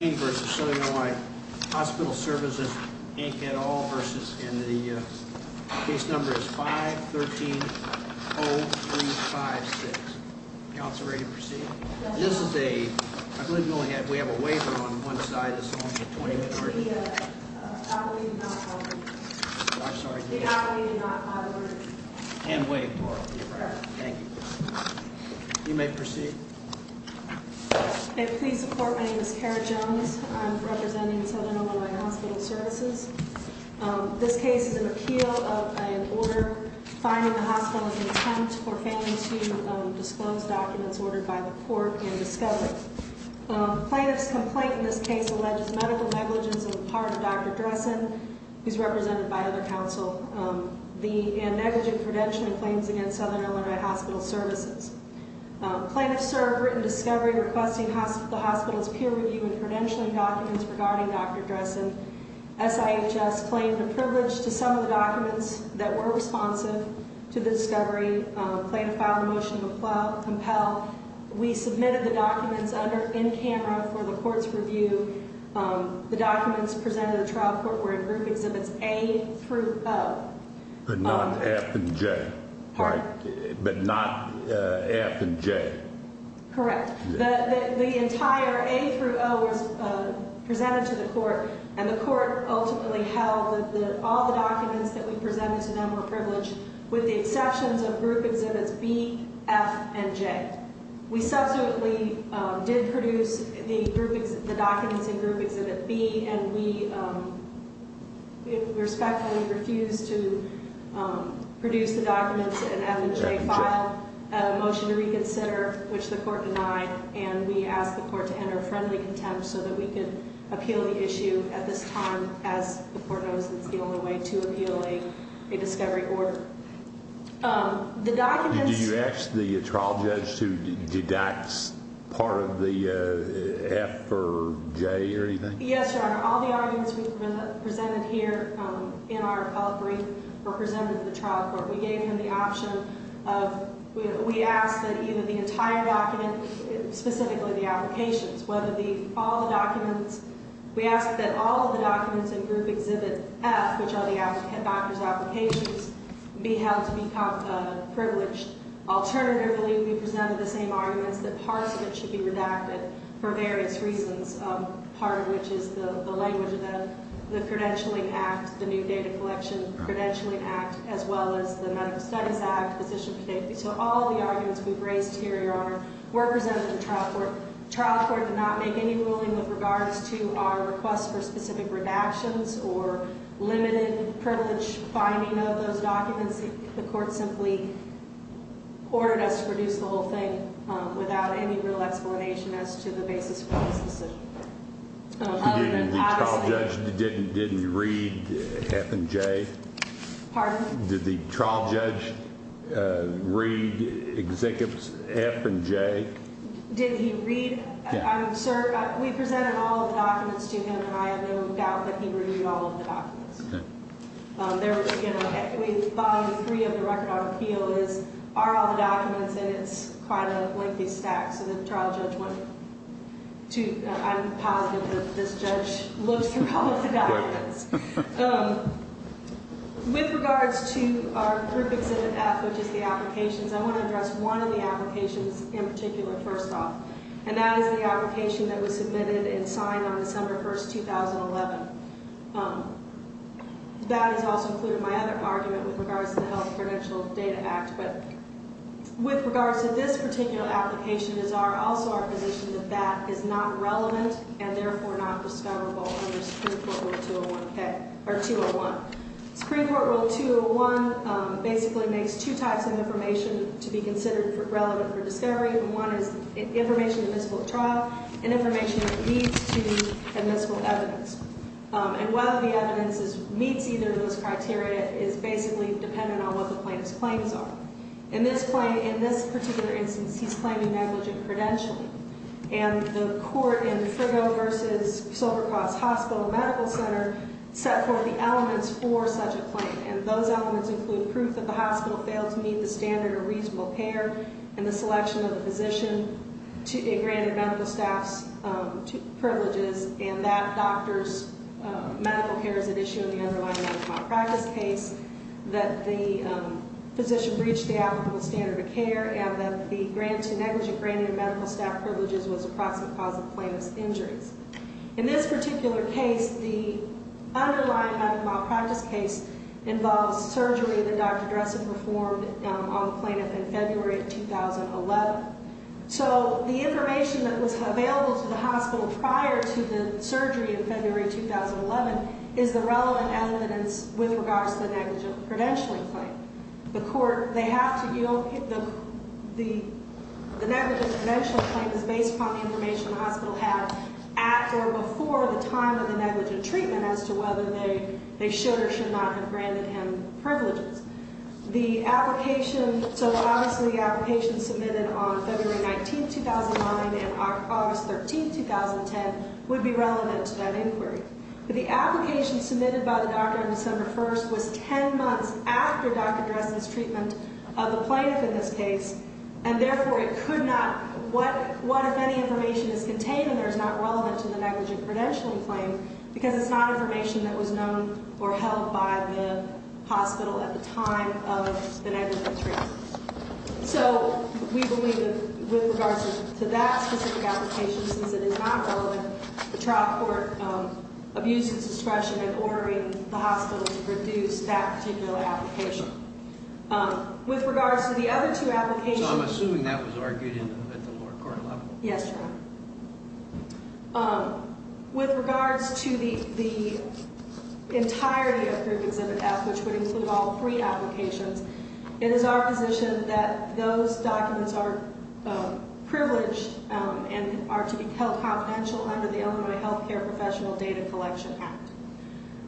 And the case number is 513-0356. Council, ready to proceed? This is a, I believe we only have, we have a waiver on one side, it's only a 20 minute order. I believe not. I'm sorry? I believe not. And wait for it. Thank you. You may proceed. May it please the court, my name is Kara Jones. I'm representing Southern Ill. Hospital Services. This case is an appeal of an order fining the hospital of an attempt for failing to disclose documents ordered by the court in discovery. Plaintiff's complaint in this case alleges medical negligence on the part of Dr. Dressen, who's represented by other council, and negligent prevention in claims against Southern Ill. Hospital Services. Plaintiff served written discovery requesting the hospital's peer review and credentialing documents regarding Dr. Dressen. SIHS claimed a privilege to some of the documents that were responsive to the discovery. Plaintiff filed a motion to compel. We submitted the documents under, in camera for the court's review. The documents presented to the trial court were in group exhibits A through O. But not F and J, right? But not F and J. Correct. The entire A through O was presented to the court, and the court ultimately held that all the documents that we presented to them were privileged, with the exceptions of group exhibits B, F, and J. We subsequently did produce the documents in group exhibit B, and we respectfully refused to produce the documents in F and J. We filed a motion to reconsider, which the court denied, and we asked the court to enter a friendly contempt so that we could appeal the issue at this time, as the court knows it's the only way to appeal a discovery order. Do you ask the trial judge to deduct part of the F or J or anything? Yes, Your Honor. All the documents we presented here in our appellate brief were presented to the trial court. We gave them the option of, we asked that either the entire document, specifically the applications, whether the, all the documents, we asked that all of the documents in group exhibit F, which are the doctor's applications, be held to be privileged. Alternatively, we presented the same arguments that parts of it should be redacted for various reasons, part of which is the language of the Credentialing Act, the New Data Collection Credentialing Act, as well as the Medical Studies Act, Physician for Safety. So all the arguments we've raised here, Your Honor, were presented to the trial court. The trial court did not make any ruling with regards to our request for specific redactions or limited privilege finding of those documents. The court simply ordered us to produce the whole thing without any real explanation as to the basis for this decision. Did the trial judge read F and J? Pardon? Did the trial judge read executes F and J? Did he read? Yes. Sir, we presented all of the documents to him, and I have no doubt that he read all of the documents. Okay. There was, you know, we find three of the record on appeal is, are all the documents, and it's quite a lengthy stack. So the trial judge went to, I'm positive that this judge looked through all of the documents. Quite a bit. With regards to our group exhibit F, which is the applications, I want to address one of the applications in particular first off, and that is the application that was submitted and signed on December 1, 2011. That has also included my other argument with regards to the Health Credential Data Act. But with regards to this particular application is also our position that that is not relevant and therefore not discoverable under Supreme Court Rule 201. Supreme Court Rule 201 basically makes two types of information to be considered relevant for discovery, and one is information admissible at trial and information that leads to admissible evidence. And whether the evidence meets either of those criteria is basically dependent on what the plaintiff's claims are. In this particular instance, he's claiming negligent credential, and the court in Frigo v. Silvercross Hospital Medical Center set forth the elements for such a claim, and those elements include proof that the hospital failed to meet the standard of reasonable care and the selection of a physician to be granted medical staff privileges, and that doctors' medical care is at issue in the underlying medical malpractice case, that the physician breached the applicable standard of care, and that the grant to negligent granting of medical staff privileges was the proximate cause of the plaintiff's injuries. In this particular case, the underlying medical malpractice case involves surgery that Dr. Dressen performed on the plaintiff in February of 2011. So the information that was available to the hospital prior to the surgery in February 2011 is the relevant evidence with regards to the negligent credentialing claim. The court, they have to, you know, the negligent credentialing claim is based upon the information the hospital had at or before the time of the negligent treatment as to whether they should or should not have granted him privileges. The application, so obviously the application submitted on February 19, 2009, and August 13, 2010, would be relevant to that inquiry. But the application submitted by the doctor on December 1st was 10 months after Dr. Dressen's treatment of the plaintiff in this case, and therefore it could not, what if any information is contained and there is not relevant to the negligent credentialing claim, because it's not information that was known or held by the hospital at the time of the negligent treatment. So we believe that with regards to that specific application, since it is not relevant, the trial court abused its discretion in ordering the hospital to reduce that particular application. With regards to the other two applications. So I'm assuming that was argued at the lower court level. Yes, Your Honor. With regards to the entirety of Group Exhibit F, which would include all three applications, it is our position that those documents are privileged and are to be held confidential under the Illinois Healthcare Professional Data Collection Act.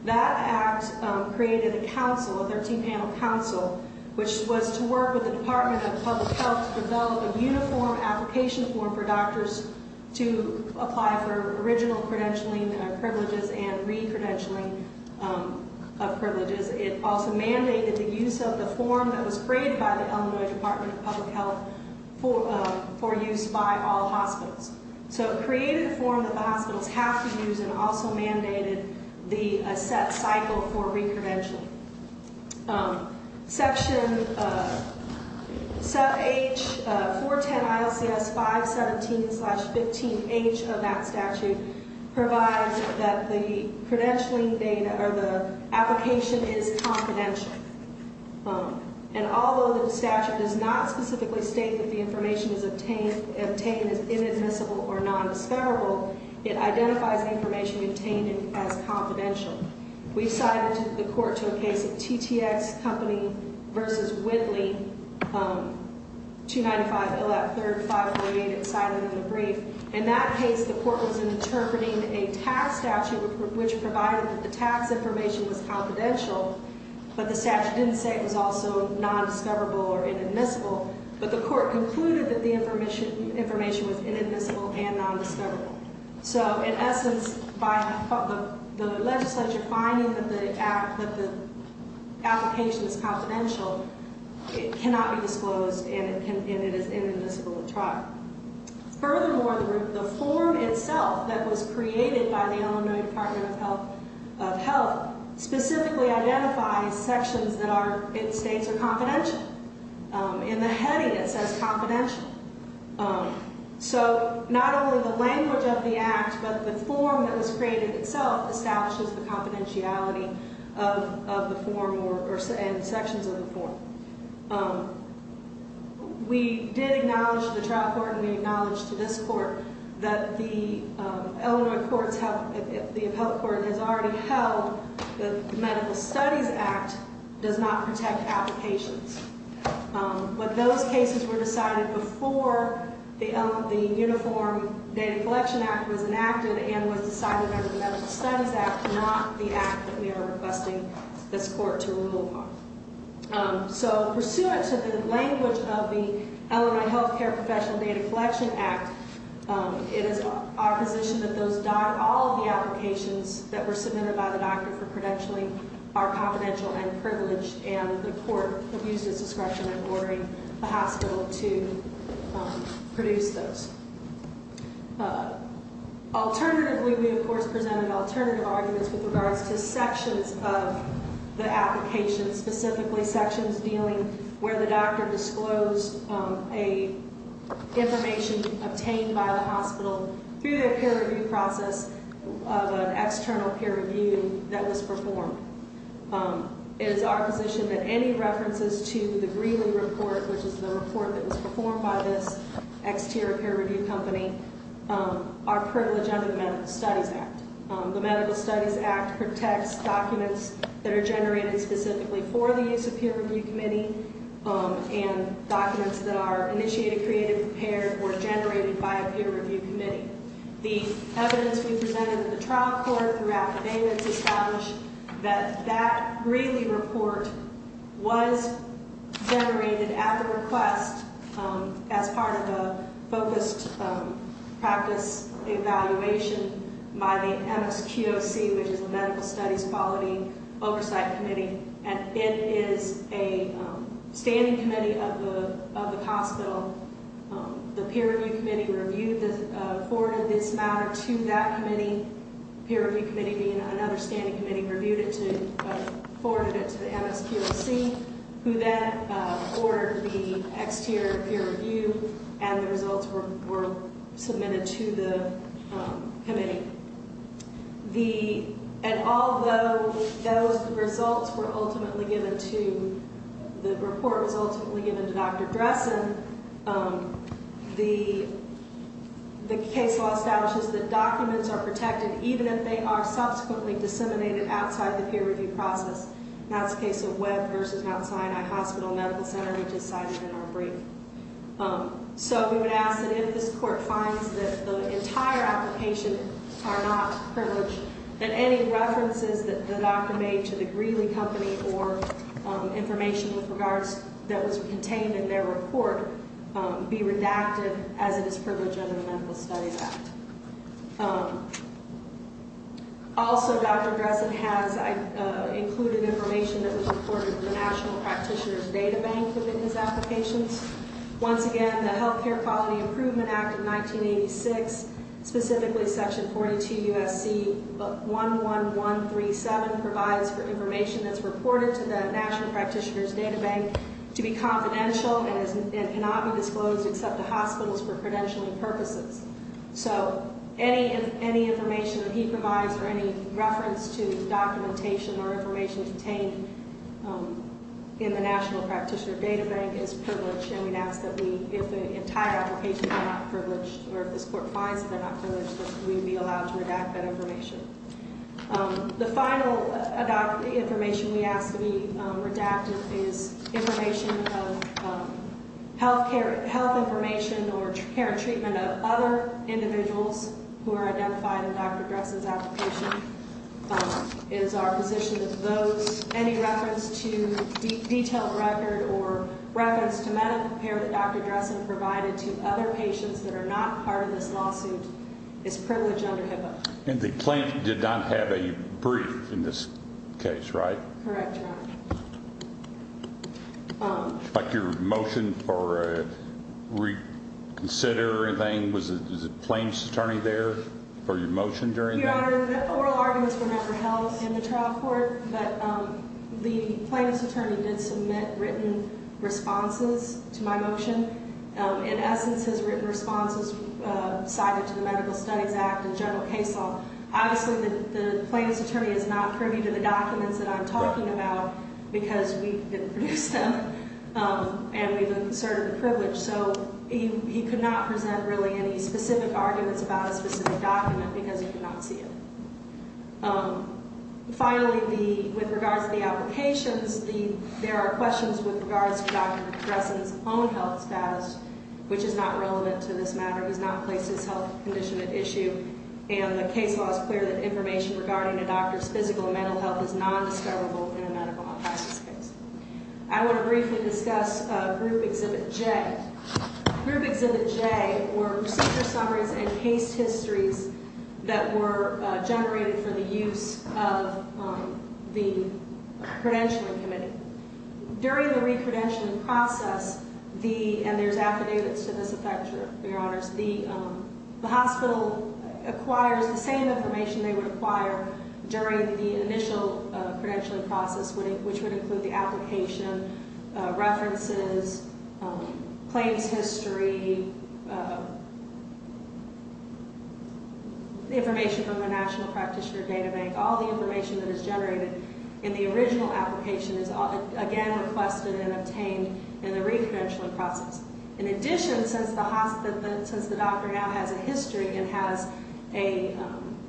That act created a council, a 13-panel council, which was to work with the Department of Public Health to develop a uniform application form for doctors to apply for original credentialing privileges and re-credentialing of privileges. It also mandated the use of the form that was created by the Illinois Department of Public Health for use by all hospitals. So it created a form that the hospitals have to use and also mandated a set cycle for re-credentialing. Section 410 ILCS 517-15H of that statute provides that the credentialing data or the application is confidential. And although the statute does not specifically state that the information obtained is inadmissible or non-disparable, it identifies information obtained as confidential. We've cited the court to a case of TTX Company v. Whitley, 295 LF 3548. It's cited in the brief. In that case, the court was interpreting a tax statute which provided that the tax information was confidential, but the statute didn't say it was also non-discoverable or inadmissible. But the court concluded that the information was inadmissible and non-discoverable. So in essence, by the legislature finding that the application is confidential, it cannot be disclosed and it is inadmissible to try. Furthermore, the form itself that was created by the Illinois Department of Health specifically identifies sections that states are confidential. In the heading, it says confidential. So not only the language of the act, but the form that was created itself establishes the confidentiality of the form and sections of the form. We did acknowledge to the trial court and we acknowledge to this court that the Illinois Courts Health, the appellate court has already held that the Medical Studies Act does not protect applications. But those cases were decided before the Uniform Data Collection Act was enacted and was decided under the Medical Studies Act, not the act that we are requesting this court to rule on. So pursuant to the language of the Illinois Health Care Professional Data Collection Act, it is our position that all of the applications that were submitted by the doctor for credentialing are confidential and privileged and the court has used its discretion in ordering the hospital to produce those. Alternatively, we of course presented alternative arguments with regards to sections of the application, specifically sections dealing where the doctor disclosed information obtained by the hospital through the peer review process of an external peer review that was performed. It is our position that any references to the Greeley Report, which is the report that was performed by this exterior peer review company, are privileged under the Medical Studies Act. The Medical Studies Act protects documents that are generated specifically for the use of peer review committee and documents that are initiated, created, prepared, or generated by a peer review committee. The evidence we presented at the trial court throughout the payments established that that Greeley Report was generated at the request as part of a focused practice evaluation by the MSQOC, which is the Medical Studies Quality Oversight Committee, and it is a standing committee of the hospital. The peer review committee forwarded this matter to that committee, peer review committee being another standing committee, forwarded it to the MSQOC, who then forwarded the exterior peer review and the results were submitted to the committee. And although those results were ultimately given to, the report was ultimately given to Dr. Dressen, the case law establishes that documents are protected even if they are subsequently disseminated outside the peer review process. That's the case of Webb versus Mount Sinai Hospital Medical Center, which is cited in our brief. So we would ask that if this court finds that the entire application are not privileged, that any references that the doctor made to the Greeley Company or information with regards that was contained in their report be redacted as it is privileged under the Medical Studies Act. Also, Dr. Dressen has included information that was reported to the National Practitioner's Data Bank within his applications. Once again, the Health Care Quality Improvement Act of 1986, specifically Section 42 U.S.C. 11137, provides for information that's reported to the National Practitioner's Data Bank to be confidential and cannot be disclosed except to hospitals for credentialing purposes. So any information that he provides or any reference to documentation or information contained in the National Practitioner's Data Bank is privileged, and we'd ask that if the entire application were not privileged, or if this court finds that they're not privileged, that we be allowed to redact that information. The final information we ask to be redacted is information of health information or care and treatment and other individuals who are identified in Dr. Dressen's application is our position that those, any reference to detailed record or reference to medical care that Dr. Dressen provided to other patients that are not part of this lawsuit is privileged under HIPAA. And the claimant did not have a brief in this case, right? Correct, Your Honor. Would you like your motion for reconsider or anything? Was the plaintiff's attorney there for your motion during that? Your Honor, oral arguments were never held in the trial court, but the plaintiff's attorney did submit written responses to my motion. In essence, his written response was cited to the Medical Studies Act and general case law. Obviously, the plaintiff's attorney is not privy to the documents that I'm talking about because we didn't produce them, and we've inserted the privilege. So, he could not present really any specific arguments about a specific document because he could not see it. Finally, with regards to the applications, there are questions with regards to Dr. Dressen's own health status, which is not relevant to this matter, does not place his health condition at issue. And the case law is clear that information regarding a doctor's physical and mental health is nondiscoverable in a medical health crisis case. I want to briefly discuss Group Exhibit J. Group Exhibit J were procedure summaries and case histories that were generated for the use of the credentialing committee. During the repredention process, and there's affidavits to this effect, Your Honor, the hospital acquires the same information they would acquire during the initial credentialing process, which would include the application, references, claims history, the information from the National Practitioner Data Bank. All the information that is generated in the original application is, again, requested and obtained in the repredention process. In addition, since the doctor now has a history and has a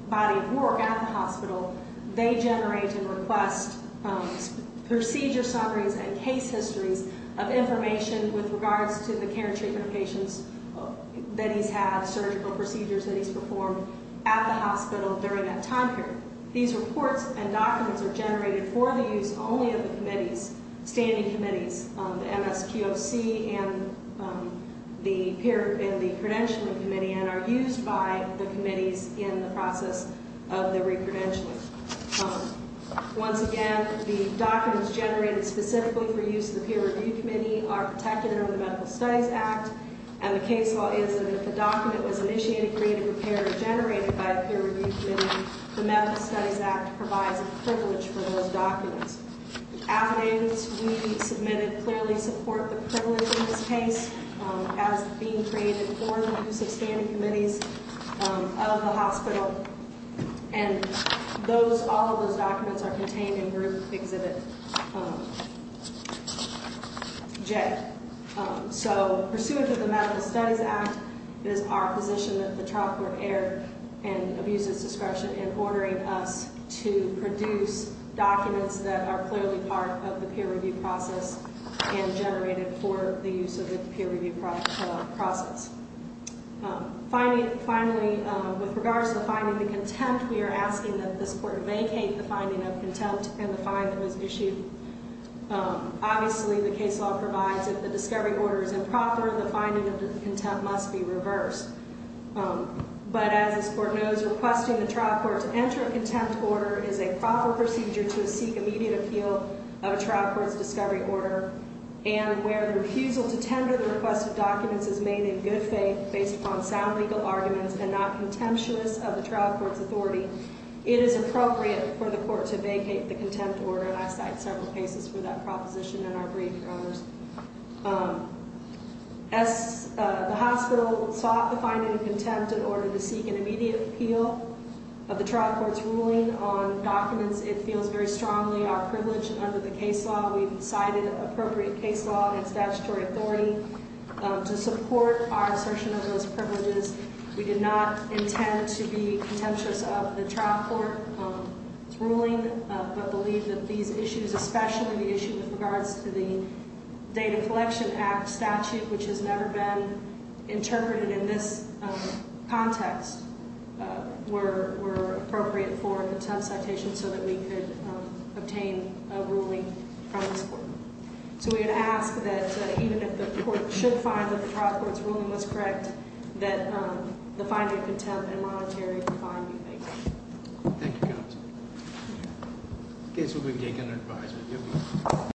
body of work at the hospital, they generate and request procedure summaries and case histories of information with regards to the care and treatment of patients that he's had, surgical procedures that he's performed at the hospital during that time period. These reports and documents are generated for the use only of the committees, standing committees, the MSQOC and the credentialing committee and are used by the committees in the process of the repredention. Once again, the documents generated specifically for use of the peer review committee are protected under the Medical Studies Act, and the case law is that if the document was initiated, created, prepared, or generated by a peer review committee, the Medical Studies Act provides a privilege for those documents. Affidavits we submitted clearly support the privilege in this case as being created for the use of standing committees of the hospital, and all of those documents are contained in Group Exhibit J. So pursuant to the Medical Studies Act, it is our position that the trial court err in abuser's discretion in ordering us to produce documents that are clearly part of the peer review process and generated for the use of the peer review process. Finally, with regards to the finding of contempt, we are asking that this court vacate the finding of contempt and the fine that was issued. Obviously, the case law provides that if the discovery order is improper, the finding of contempt must be reversed. But as this court knows, requesting the trial court to enter a contempt order is a proper procedure to seek immediate appeal of a trial court's discovery order, and where the refusal to tender the requested documents is made in good faith based upon sound legal arguments and not contemptuous of the trial court's authority, it is appropriate for the court to vacate the contempt order, and I cite several cases for that proposition in our brief, Your Honors. As the hospital sought the finding of contempt in order to seek an immediate appeal of the trial court's ruling on documents, it feels very strongly our privilege under the case law. We've cited appropriate case law and statutory authority to support our assertion of those privileges. We did not intend to be contemptuous of the trial court's ruling, but believe that these issues, especially the issue with regards to the Data Collection Act statute, which has never been interpreted in this context, were appropriate for a contempt citation so that we could obtain a ruling from this court. So we would ask that even if the court should find that the trial court's ruling was correct, that the finding of contempt and monetary fine be vacated. Thank you, counsel. The case will be taken under advisement.